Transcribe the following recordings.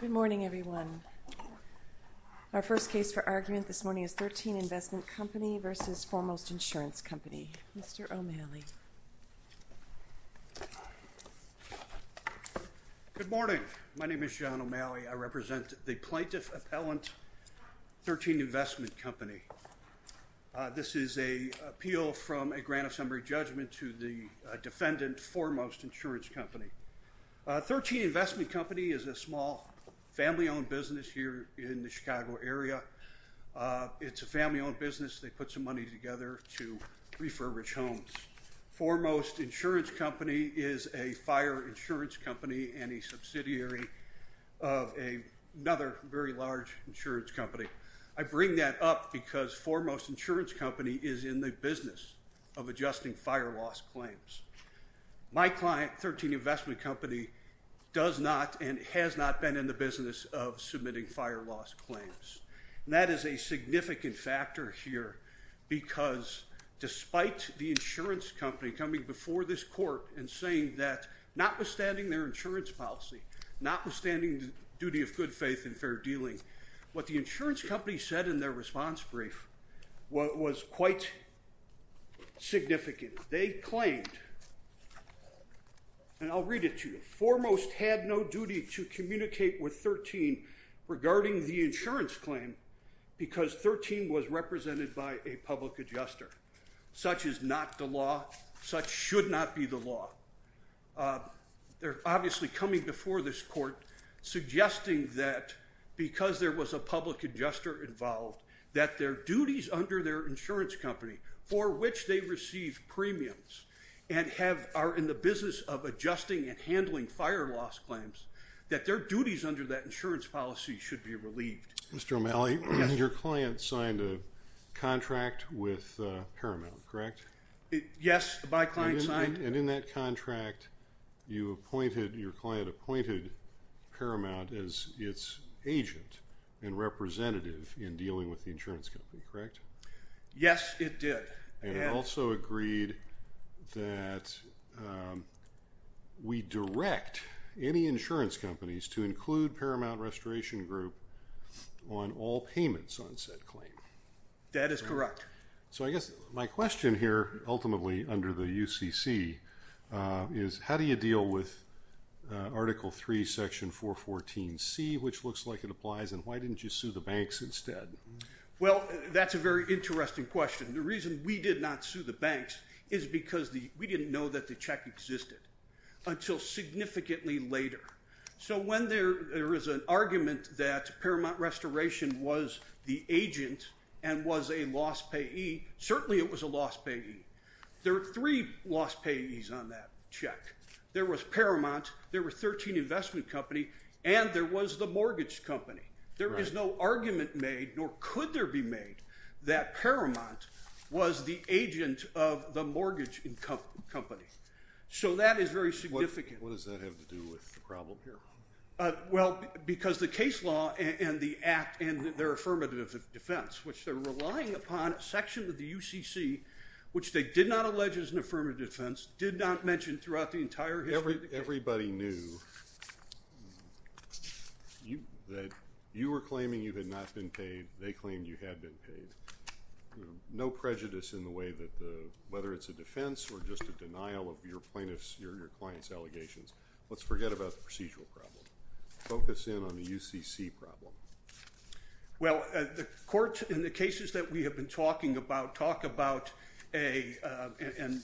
Good morning, everyone. Our first case for argument this morning is Thirteen Investment Company v. Foremost Insurance Company. Mr. O'Malley. Good morning. My name is John O'Malley. I represent the Plaintiff Appellant, Thirteen Investment Company. This is an appeal from a grant of summary judgment to the defendant, Foremost Insurance Company. Thirteen Investment Company is a small family-owned business here in the Chicago area. It's a family-owned business. They put some money together to refurbish homes. Foremost Insurance Company is a fire insurance company and a subsidiary of another very large insurance company. I bring that up because Foremost Insurance Company is in the business of adjusting fire loss claims. My client, Thirteen Investment Company, does not and has not been in the business of submitting fire loss claims. That is a significant factor here because despite the insurance company coming before this court and saying that notwithstanding their insurance policy, notwithstanding the duty of good faith and fair dealing, what the insurance company said in their response brief was quite significant. They claimed, and I'll read it to you, Foremost had no duty to communicate with Thirteen regarding the insurance claim because Thirteen was represented by a public adjuster. Such is not the law. Such should not be the law. They're obviously coming before this court suggesting that because there was a public adjuster involved, that their duties under their insurance company for which they received premiums and are in the business of adjusting and handling fire loss claims, that their duties under that insurance policy should be relieved. Mr. O'Malley, your client signed a contract with Paramount, correct? Yes, my client signed. And in that contract, your client appointed Paramount as its agent and representative in dealing with the insurance company, correct? Yes, it did. And also agreed that we direct any insurance companies to include Paramount Restoration Group on all payments on said claim. That is correct. So I guess my question here, ultimately under the UCC, is how do you deal with Article 3, Section 414C, which looks like it applies, and why didn't you sue the banks instead? Well, that's a very interesting question. The reason we did not sue the banks is because we didn't know that the check existed until significantly later. So when there is an argument that Paramount Restoration was the agent and was a loss payee, certainly it was a loss payee. There are three loss payees on that check. There was Paramount, there were 13 investment companies, and there was the mortgage company. There is no argument made, nor could there be made, that Paramount was the agent of the mortgage company. So that is very significant. What does that have to do with the problem here? Well, because the case law and the Act and their affirmative defense, which they're relying upon, Section of the UCC, which they did not allege is an affirmative defense, did not mention throughout the entire history of the case. Everybody knew that you were claiming you had not been paid. They claimed you had been paid. No prejudice in the way that whether it's a defense or just a denial of your client's allegations. Let's forget about the procedural problem. Focus in on the UCC problem. Well, the court, in the cases that we have been talking about, talk about a and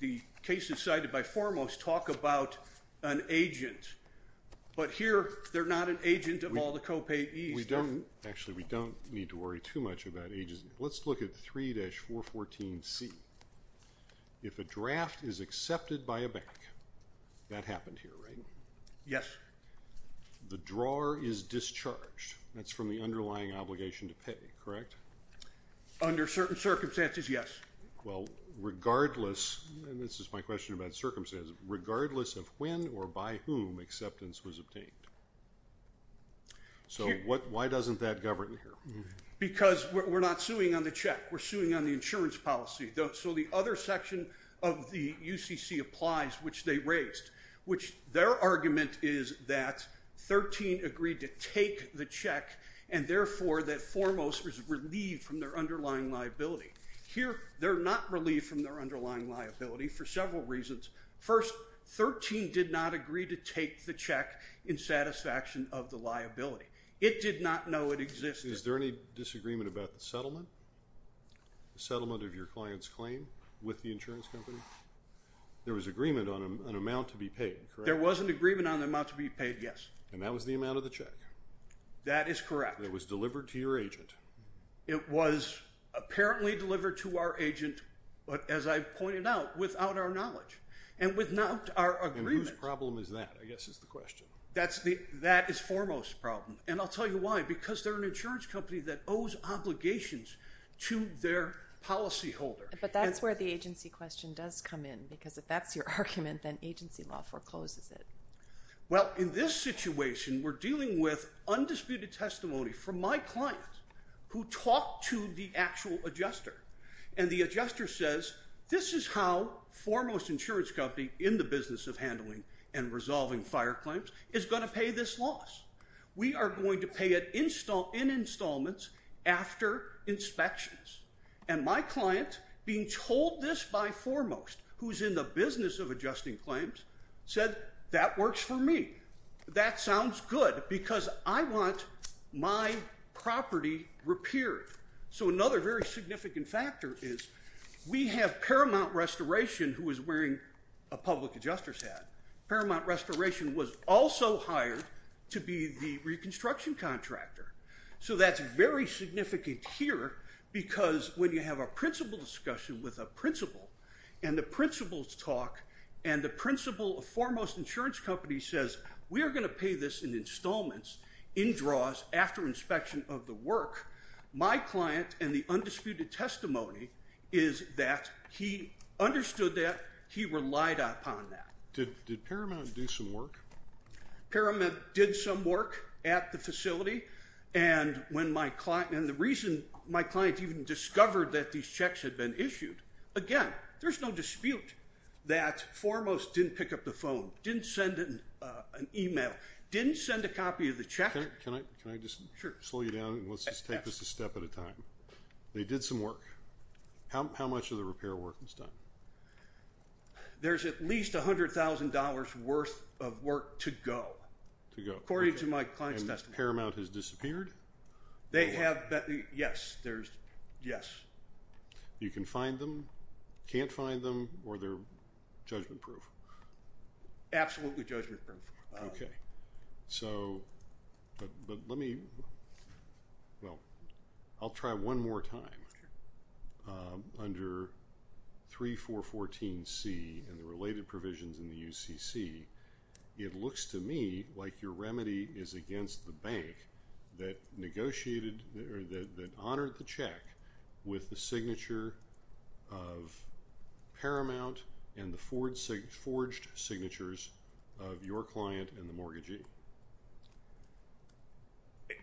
the cases cited by foremost talk about an agent. But here, they're not an agent of all the co-payees. Actually, we don't need to worry too much about agents. Let's look at 3-414C. If a draft is accepted by a bank, that happened here, right? Yes. The drawer is discharged. That's from the underlying obligation to pay, correct? Under certain circumstances, yes. Well, regardless, and this is my question about circumstances, regardless of when or by whom acceptance was obtained. So why doesn't that govern here? Because we're not suing on the check. We're suing on the insurance policy. So the other section of the UCC applies, which they raised, which their argument is that 13 agreed to take the check, and therefore that foremost was relieved from their underlying liability. Here, they're not relieved from their underlying liability for several reasons. First, 13 did not agree to take the check in satisfaction of the liability. It did not know it existed. Is there any disagreement about the settlement, the settlement of your client's claim with the insurance company? There was agreement on an amount to be paid, correct? There was an agreement on the amount to be paid, yes. And that was the amount of the check? That is correct. It was delivered to your agent? It was apparently delivered to our agent, but as I pointed out, without our knowledge and without our agreement. And whose problem is that? I guess that's the question. That is foremost problem, and I'll tell you why. Because they're an insurance company that owes obligations to their policyholder. But that's where the agency question does come in, because if that's your argument, then agency law forecloses it. Well, in this situation, we're dealing with undisputed testimony from my client who talked to the actual adjuster. And the adjuster says, this is how Foremost Insurance Company, in the business of handling and resolving fire claims, is going to pay this loss. We are going to pay it in installments after inspections. And my client, being told this by Foremost, who's in the business of adjusting claims, said, that works for me. That sounds good, because I want my property repaired. So another very significant factor is we have Paramount Restoration, who is wearing a public adjuster's hat. Paramount Restoration was also hired to be the reconstruction contractor. So that's very significant here, because when you have a principal discussion with a principal, and the principals talk, and the principal of Foremost Insurance Company says, we are going to pay this in installments, in draws, after inspection of the work, my client, in the undisputed testimony, is that he understood that. He relied upon that. Did Paramount do some work? Paramount did some work at the facility. And when my client, and the reason my client even discovered that these checks had been issued, again, there's no dispute that Foremost didn't pick up the phone, didn't send an email, didn't send a copy of the check. Can I just slow you down, and let's just take this a step at a time? They did some work. How much of the repair work was done? There's at least $100,000 worth of work to go, according to my client's testimony. And Paramount has disappeared? They have, yes. Yes. You can find them, can't find them, or they're judgment-proof? Absolutely judgment-proof. Okay. So, but let me, well, I'll try one more time. Under 3414C and the related provisions in the UCC, it looks to me like your remedy is against the bank that negotiated, that honored the check with the signature of Paramount and the forged signatures of your client and the mortgagee.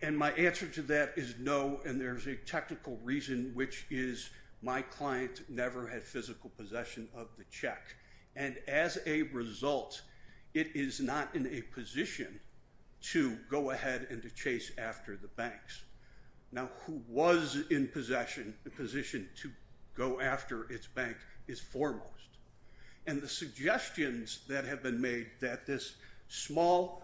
And my answer to that is no, and there's a technical reason, which is my client never had physical possession of the check. And as a result, it is not in a position to go ahead and to chase after the banks. Now, who was in possession, in a position to go after its bank is foremost. And the suggestions that have been made that this small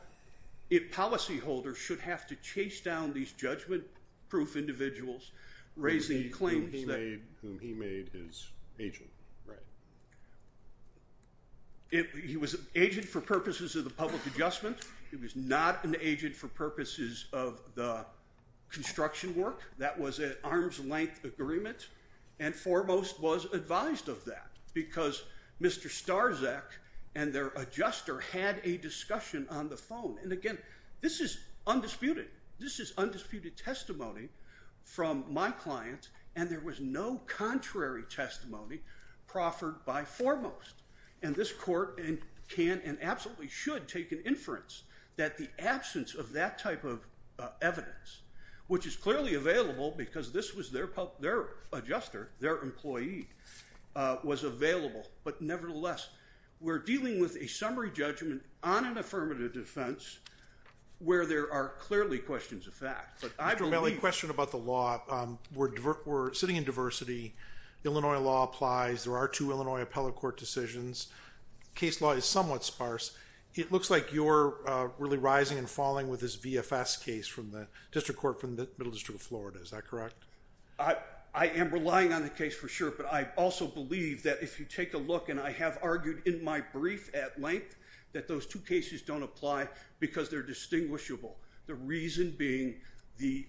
policyholder should have to chase down these judgment-proof individuals, raising claims. Whom he made his agent, right. He was an agent for purposes of the public adjustment. He was not an agent for purposes of the construction work. That was an arm's-length agreement and foremost was advised of that because Mr. Starczak and their adjuster had a discussion on the phone. And, again, this is undisputed. This is undisputed testimony from my client, and there was no contrary testimony proffered by foremost. And this court can and absolutely should take an inference that the absence of that type of evidence, which is clearly available because this was their adjuster, their employee, was available. But, nevertheless, we're dealing with a summary judgment on an affirmative defense where there are clearly questions of fact. But I believe... Mr. Bailey, a question about the law. We're sitting in diversity. Illinois law applies. There are two Illinois appellate court decisions. Case law is somewhat sparse. It looks like you're really rising and falling with this VFS case from the district court from the Middle District of Florida. Is that correct? I am relying on the case for sure, but I also believe that if you take a look, and I have argued in my brief at length, that those two cases don't apply because they're distinguishable. The reason being the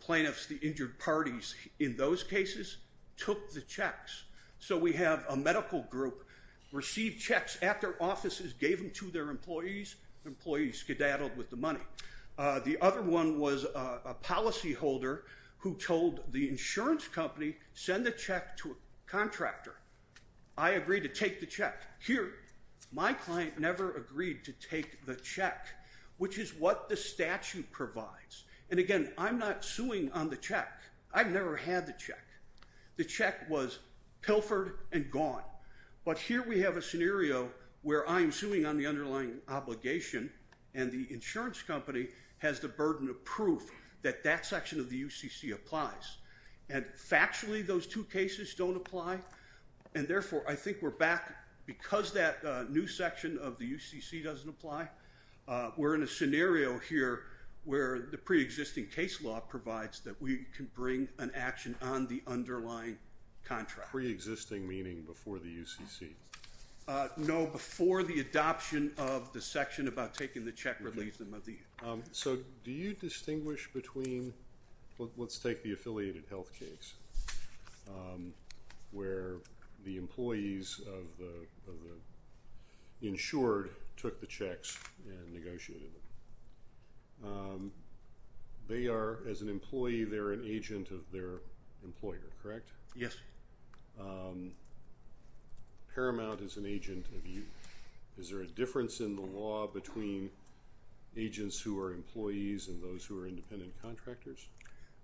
plaintiffs, the injured parties in those cases, took the checks. So we have a medical group receive checks at their offices, gave them to their employees, the employees skedaddled with the money. The other one was a policyholder who told the insurance company send the check to a contractor. I agreed to take the check. Here, my client never agreed to take the check, which is what the statute provides. And again, I'm not suing on the check. I've never had the check. The check was pilfered and gone. But here we have a scenario where I'm suing on the underlying obligation and the insurance company has the burden of proof that that section of the UCC applies. And factually, those two cases don't apply. And therefore, I think we're back. Because that new section of the UCC doesn't apply, we're in a scenario here where the pre-existing case law provides that we can bring an action on the underlying contract. Pre-existing meaning before the UCC? No, before the adoption of the section about taking the check relief. So do you distinguish between... ...where the employees of the insured took the checks and negotiated them? They are, as an employee, they're an agent of their employer, correct? Yes. Paramount is an agent of you. Is there a difference in the law between agents who are employees and those who are independent contractors?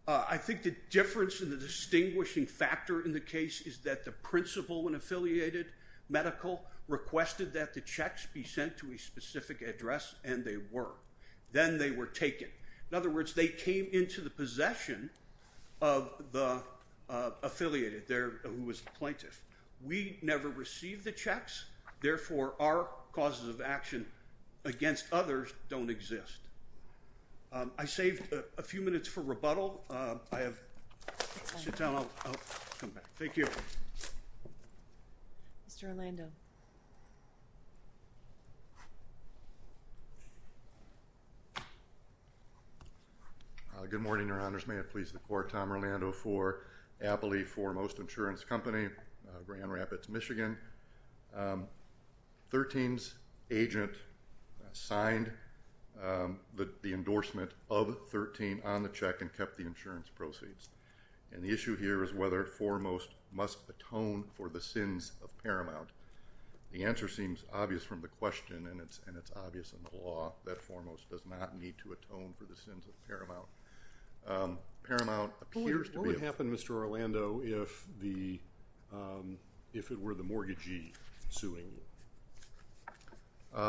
I think the difference and the distinguishing factor in the case is that the principal and affiliated medical requested that the checks be sent to a specific address, and they were. Then they were taken. In other words, they came into the possession of the affiliated there who was the plaintiff. We never received the checks. Therefore, our causes of action against others don't exist. I saved a few minutes for rebuttal. I have Chantal. I'll come back. Thank you. Mr. Orlando. Good morning, Your Honors. May it please the Court. Tom Orlando for Appley Foremost Insurance Company, Grand Rapids, Michigan. Thirteen's agent signed the endorsement of Thirteen on the check and kept the insurance proceeds. The issue here is whether Foremost must atone for the sins of Paramount. The answer seems obvious from the question, and it's obvious in the law that Foremost does not need to atone for the sins of Paramount. What would happen, Mr. Orlando, if it were the mortgagee suing you?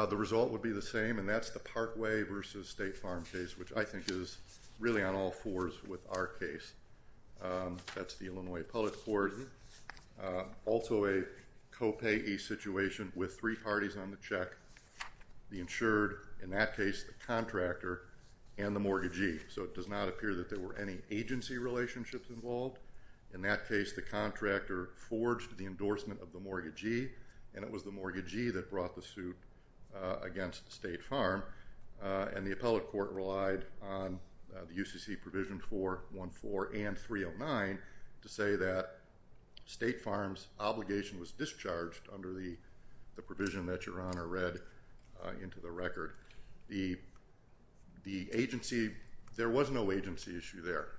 The result would be the same, and that's the Parkway v. State Farm case, which I think is really on all fours with our case. That's the Illinois Public Court. Also a copayee situation with three parties on the check, the insured, in that case the contractor, and the mortgagee. So it does not appear that there were any agency relationships involved, in that case the contractor forged the endorsement of the mortgagee, and it was the mortgagee that brought the suit against State Farm, and the appellate court relied on the UCC provision 414 and 309 to say that State Farm's obligation was discharged under the provision that Your Honor read into the record. The agency, there was no agency issue there.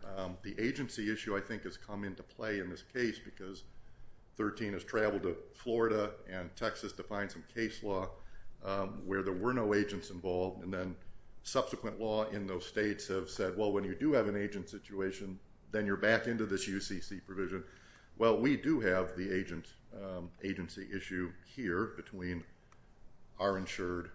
The agency issue, I think, has come into play in this case because 13 has traveled to Florida and Texas to find some case law where there were no agents involved, and then subsequent law in those states have said, well, when you do have an agent situation, then you're back into this UCC provision. Well, we do have the agency issue here between our insured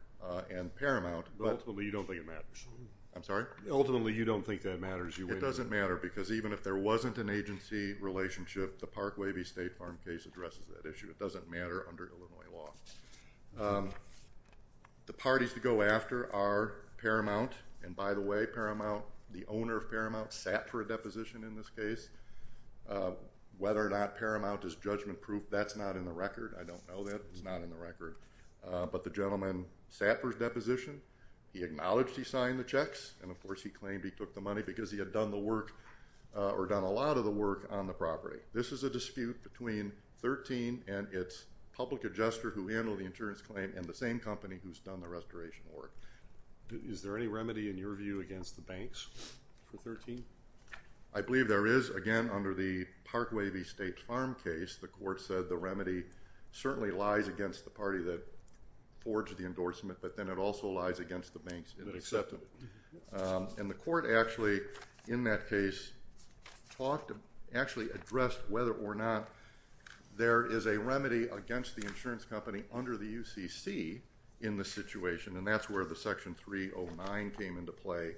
and Paramount. Ultimately, you don't think it matters. I'm sorry? Ultimately, you don't think that matters. It doesn't matter, because even if there wasn't an agency relationship, the Park-Wavy State Farm case addresses that issue. It doesn't matter under Illinois law. The parties to go after are Paramount, and by the way, Paramount, the owner of Paramount sat for a deposition in this case. Whether or not Paramount is judgment-proof, that's not in the record. I don't know that. It's not in the record. But the gentleman sat for his deposition. He acknowledged he signed the checks, and of course he claimed he took the money because he had done the work, or done a lot of the work on the property. This is a dispute between 13 and its public adjuster who handled the insurance claim and the same company who's done the restoration work. Is there any remedy, in your view, against the banks for 13? I believe there is. Again, under the Park-Wavy State Farm case, the court said the remedy certainly lies against the party that forged the endorsement, but then it also lies against the banks that accept them. And the court actually, in that case, actually addressed whether or not there is a remedy against the insurance company under the UCC in this situation, and that's where the Section 309 came into play,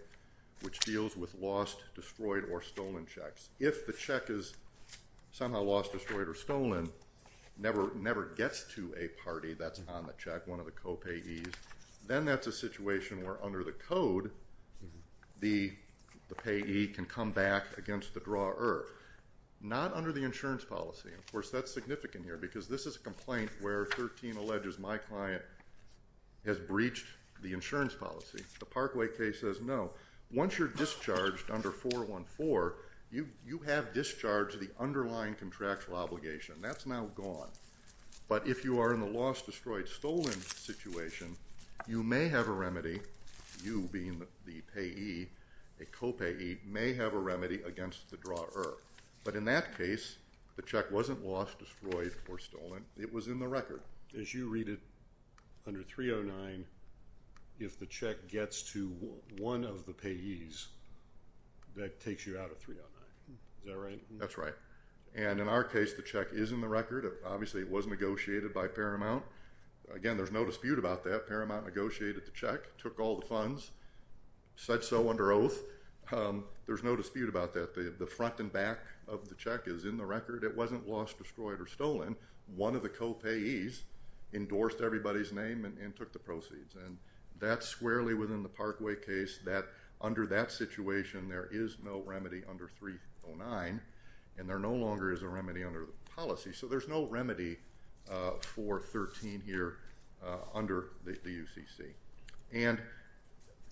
which deals with lost, destroyed, or stolen checks. If the check is somehow lost, destroyed, or stolen, never gets to a party that's on the check, one of the co-payees, then that's a situation where under the code the payee can come back against the drawer. Not under the insurance policy. Of course, that's significant here because this is a complaint where 13 alleges my client has breached the insurance policy. The Parkway case says no. Once you're discharged under 414, you have discharged the underlying contractual obligation. That's now gone. But if you are in the lost, destroyed, stolen situation, you may have a remedy, you being the payee, a co-payee, may have a remedy against the drawer. But in that case, the check wasn't lost, destroyed, or stolen. It was in the record. As you read it, under 309, if the check gets to one of the payees, that takes you out of 309. Is that right? That's right. And in our case, the check is in the record. Obviously, it was negotiated by Paramount. Again, there's no dispute about that. Paramount negotiated the check, took all the funds, said so under oath. There's no dispute about that. The front and back of the check is in the record. It wasn't lost, destroyed, or stolen. One of the co-payees endorsed everybody's name and took the proceeds. And that's squarely within the Parkway case that under that situation, there is no remedy under 309, and there no longer is a remedy under the policy. So there's no remedy for 13 here under the UCC. And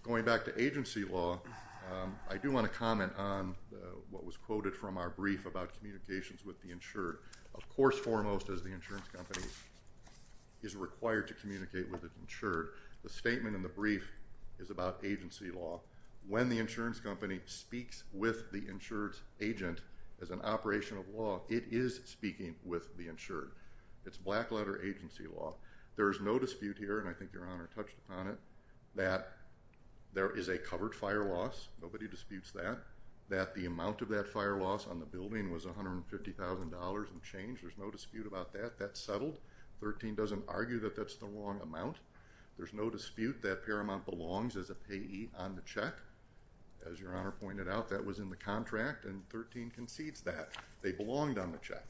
going back to agency law, I do want to comment on what was quoted from our brief about communications with the insured. Of course, foremost, as the insurance company is required to communicate with an insured, the statement in the brief is about agency law. When the insurance company speaks with the insured's agent as an operation of law, it is speaking with the insured. It's black-letter agency law. There is no dispute here, and I think Your Honor touched upon it, that there is a covered fire loss. Nobody disputes that. That the amount of that fire loss on the building was $150,000 and changed. There's no dispute about that. That's settled. 13 doesn't argue that that's the wrong amount. There's no dispute that Paramount belongs as a payee on the check. As Your Honor pointed out, that was in the contract, and 13 concedes that they belonged on the check.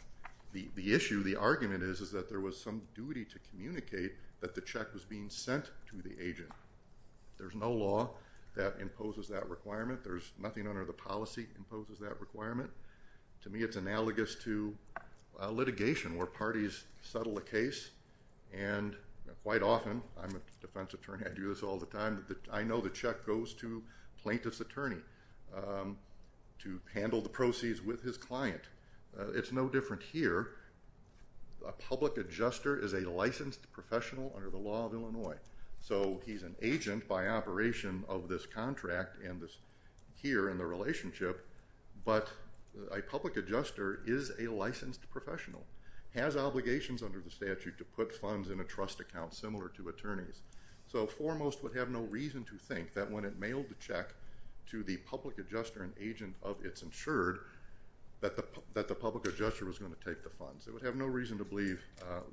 The issue, the argument is, is that there was some duty to communicate that the check was being sent to the agent. There's no law that imposes that requirement. Nothing under the policy imposes that requirement. To me, it's analogous to litigation where parties settle a case, and quite often, I'm a defense attorney, I do this all the time, I know the check goes to plaintiff's attorney to handle the proceeds with his client. It's no different here. A public adjuster is a licensed professional under the law of Illinois. So he's an agent by operation of this contract and here in the relationship, but a public adjuster is a licensed professional, has obligations under the statute to put funds in a trust account similar to attorneys, so foremost would have no reason to think that when it mailed the check to the public adjuster, an agent of its insured, that the public adjuster was going to take the funds. It would have no reason to believe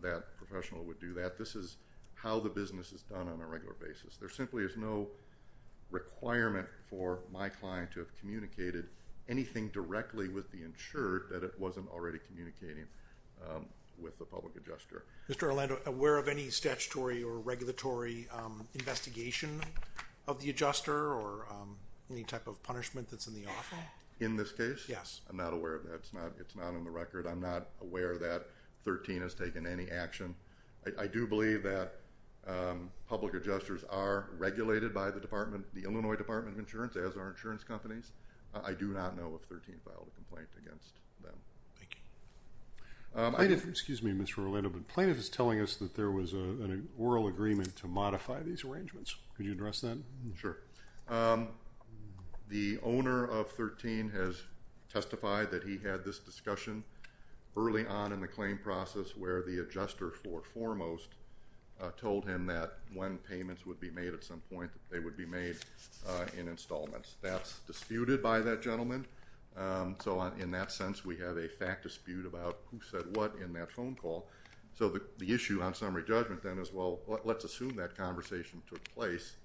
that a professional would do that. This is how the business is done on a regular basis. There simply is no requirement for my client to have communicated anything directly with the insured that it wasn't already communicating with the public adjuster. Mr. Orlando, aware of any statutory or regulatory investigation of the adjuster or any type of punishment that's in the offer? In this case? Yes. I'm not aware of that. It's not on the record. I'm not aware that 13 has taken any action. I do believe that public adjusters are regulated by the Illinois Department of Insurance as are insurance companies. I do not know if 13 filed a complaint against them. Thank you. Excuse me, Mr. Orlando, but plaintiff is telling us that there was an oral agreement to modify these arrangements. Could you address that? Sure. The owner of 13 has testified that he had this discussion early on in the claim process where the adjuster foremost told him that when payments would be made at some point, they would be made in installments. That's disputed by that gentleman. So in that sense, we have a fact dispute about who said what in that phone call. So the issue on summary judgment then is, well, let's assume that conversation took place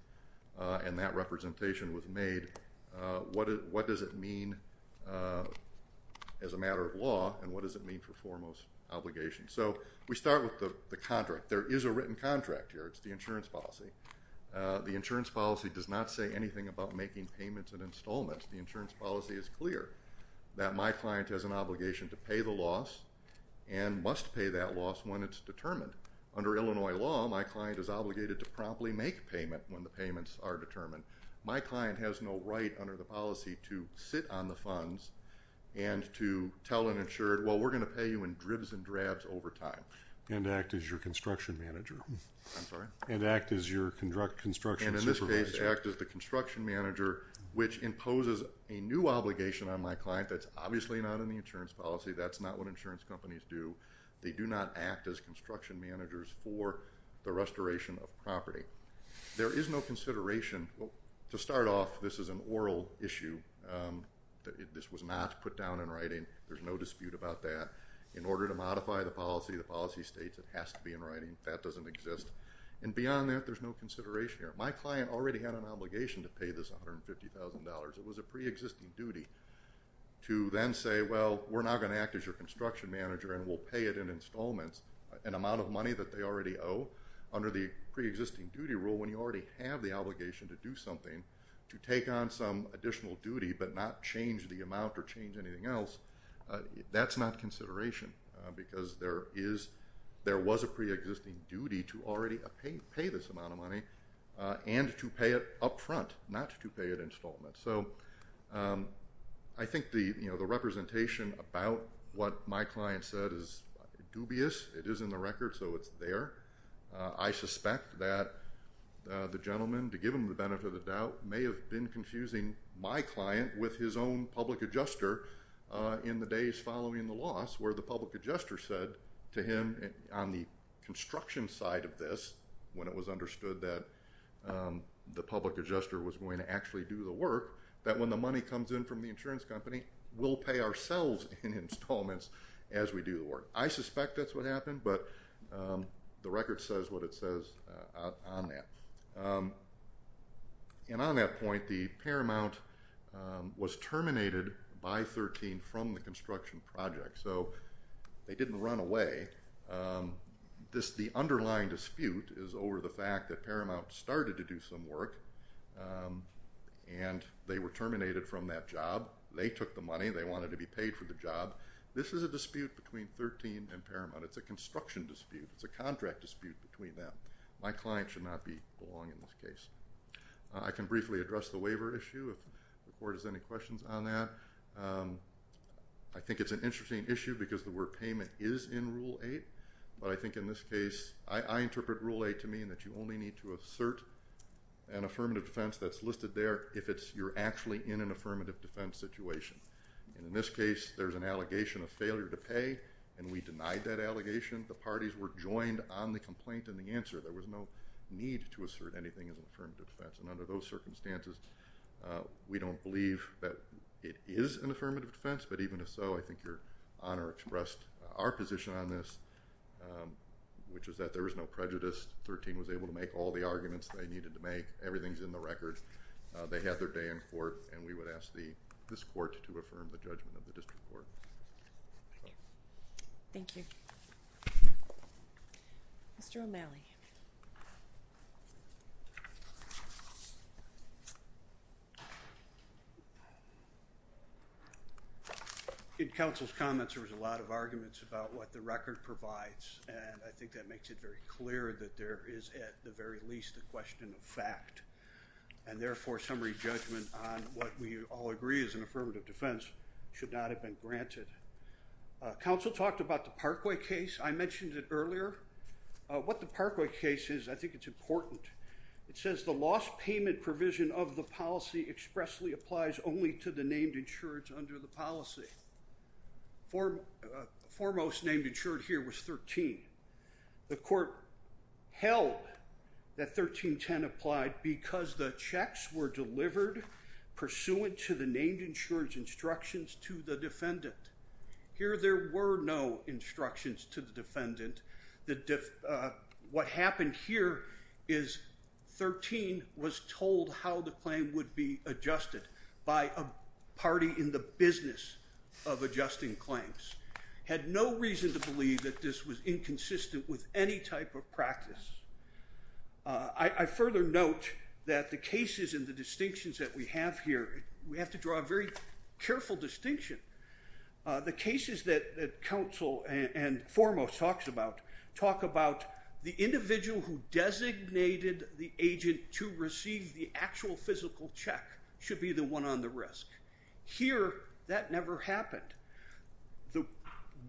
and that representation was made. What does it mean as a matter of law and what does it mean for foremost obligation? So we start with the contract. There is a written contract here. It's the insurance policy. The insurance policy does not say anything about making payments in installments. The insurance policy is clear that my client has an obligation to pay the loss and must pay that loss when it's determined. Under Illinois law, my client is obligated to promptly make a payment when the payments are determined. My client has no right under the policy to sit on the funds and to tell an insured, well, we're going to pay you in dribs and drabs over time. And act as your construction manager. I'm sorry? And act as your construction supervisor. And in this case, act as the construction manager which imposes a new obligation on my client that's obviously not in the insurance policy. That's not what insurance companies do. They do not act as construction managers for the restoration of property. There is no consideration. To start off, this is an oral issue. This was not put down in writing. There's no dispute about that. In order to modify the policy, the policy states it has to be in writing. That doesn't exist. And beyond that, there's no consideration here. My client already had an obligation to pay this $150,000. It was a preexisting duty to then say, well, we're now going to act as your construction manager and we'll pay it in installments, an amount of money that they already owe under the preexisting duty rule when you already have the obligation to do something to take on some additional duty but not change the amount or change anything else. That's not consideration because there was a preexisting duty to already pay this amount of money and to pay it up front, not to pay at installment. So I think the representation about what my client said is dubious. It is in the record, so it's there. I suspect that the gentleman, to give him the benefit of the doubt, may have been confusing my client with his own public adjuster in the days following the loss where the public adjuster said to him on the construction side of this when it was understood that the public adjuster was going to actually do the work, that when the money comes in from the insurance company, we'll pay ourselves in installments as we do the work. I suspect that's what happened, but the record says what it says on that. And on that point, the Paramount was terminated by 13 from the construction project, so they didn't run away. The underlying dispute is over the fact that Paramount started to do some work and they were terminated from that job. They took the money. They wanted to be paid for the job. This is a dispute between 13 and Paramount. It's a construction dispute. It's a contract dispute between them. My client should not belong in this case. I can briefly address the waiver issue if the Court has any questions on that. I think it's an interesting issue because the word payment is in Rule 8, but I think in this case, I interpret Rule 8 to mean that you only need to assert an affirmative defense that's listed there if you're actually in an affirmative defense situation. And in this case, there's an allegation of failure to pay, and we denied that allegation. The parties were joined on the complaint and the answer. There was no need to assert anything as an affirmative defense, and under those circumstances, we don't believe that it is an affirmative defense, but even if so, I think Your Honor expressed our position on this, which is that there was no prejudice. 13 was able to make all the arguments they needed to make. Everything's in the record. They had their day in court, and we would ask this Court to affirm the judgment of the District Court. Thank you. Mr. O'Malley. In counsel's comments, there was a lot of arguments about what the record provides, and I think that makes it very clear that there is at the very least a question of fact. And therefore, summary judgment on what we all agree is an affirmative defense should not have been granted. Counsel talked about the Parkway case. I mentioned it earlier. What the Parkway case is, I think it's important. It says the lost payment provision of the policy expressly applies only to the named insureds under the policy. Foremost named insured here was 13. The court held that 1310 applied because the checks were delivered pursuant to the named insured's instructions to the defendant. Here there were no instructions to the defendant. What happened here is 13 was told how the claim would be adjusted by a party in the business of adjusting claims. Had no reason to believe that this was inconsistent with any type of practice. I further note that the cases and the distinctions that we have here, we have to draw a very careful distinction. The cases that counsel and Foremost talks about talk about the individual who designated the agent to receive the actual physical check should be the one on the risk. Here, that never happened. The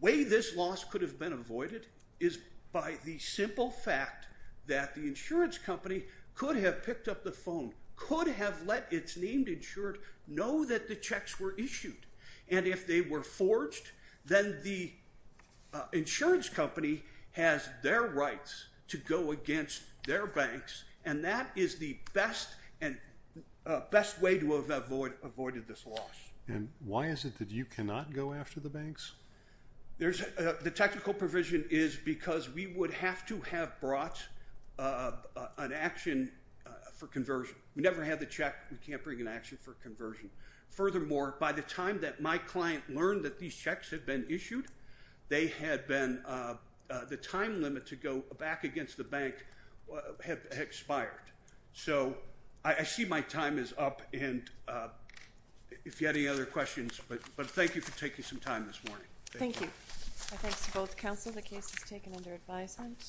way this loss could have been avoided is by the simple fact that the insurance company could have picked up the phone, could have let its named insured know that the checks were issued. And if they were forged, then the insurance company has their rights to go against their banks, and that is the best way to have avoided this loss. And why is it that you cannot go after the banks? The technical provision is because we would have to have brought an action for conversion. We never had the check. We can't bring an action for conversion. Furthermore, by the time that my client learned that these checks had been issued, the time limit to go back against the bank had expired. So I see my time is up, and if you have any other questions, but thank you for taking some time this morning. Thank you. My thanks to both counsel. The case is taken under advisement.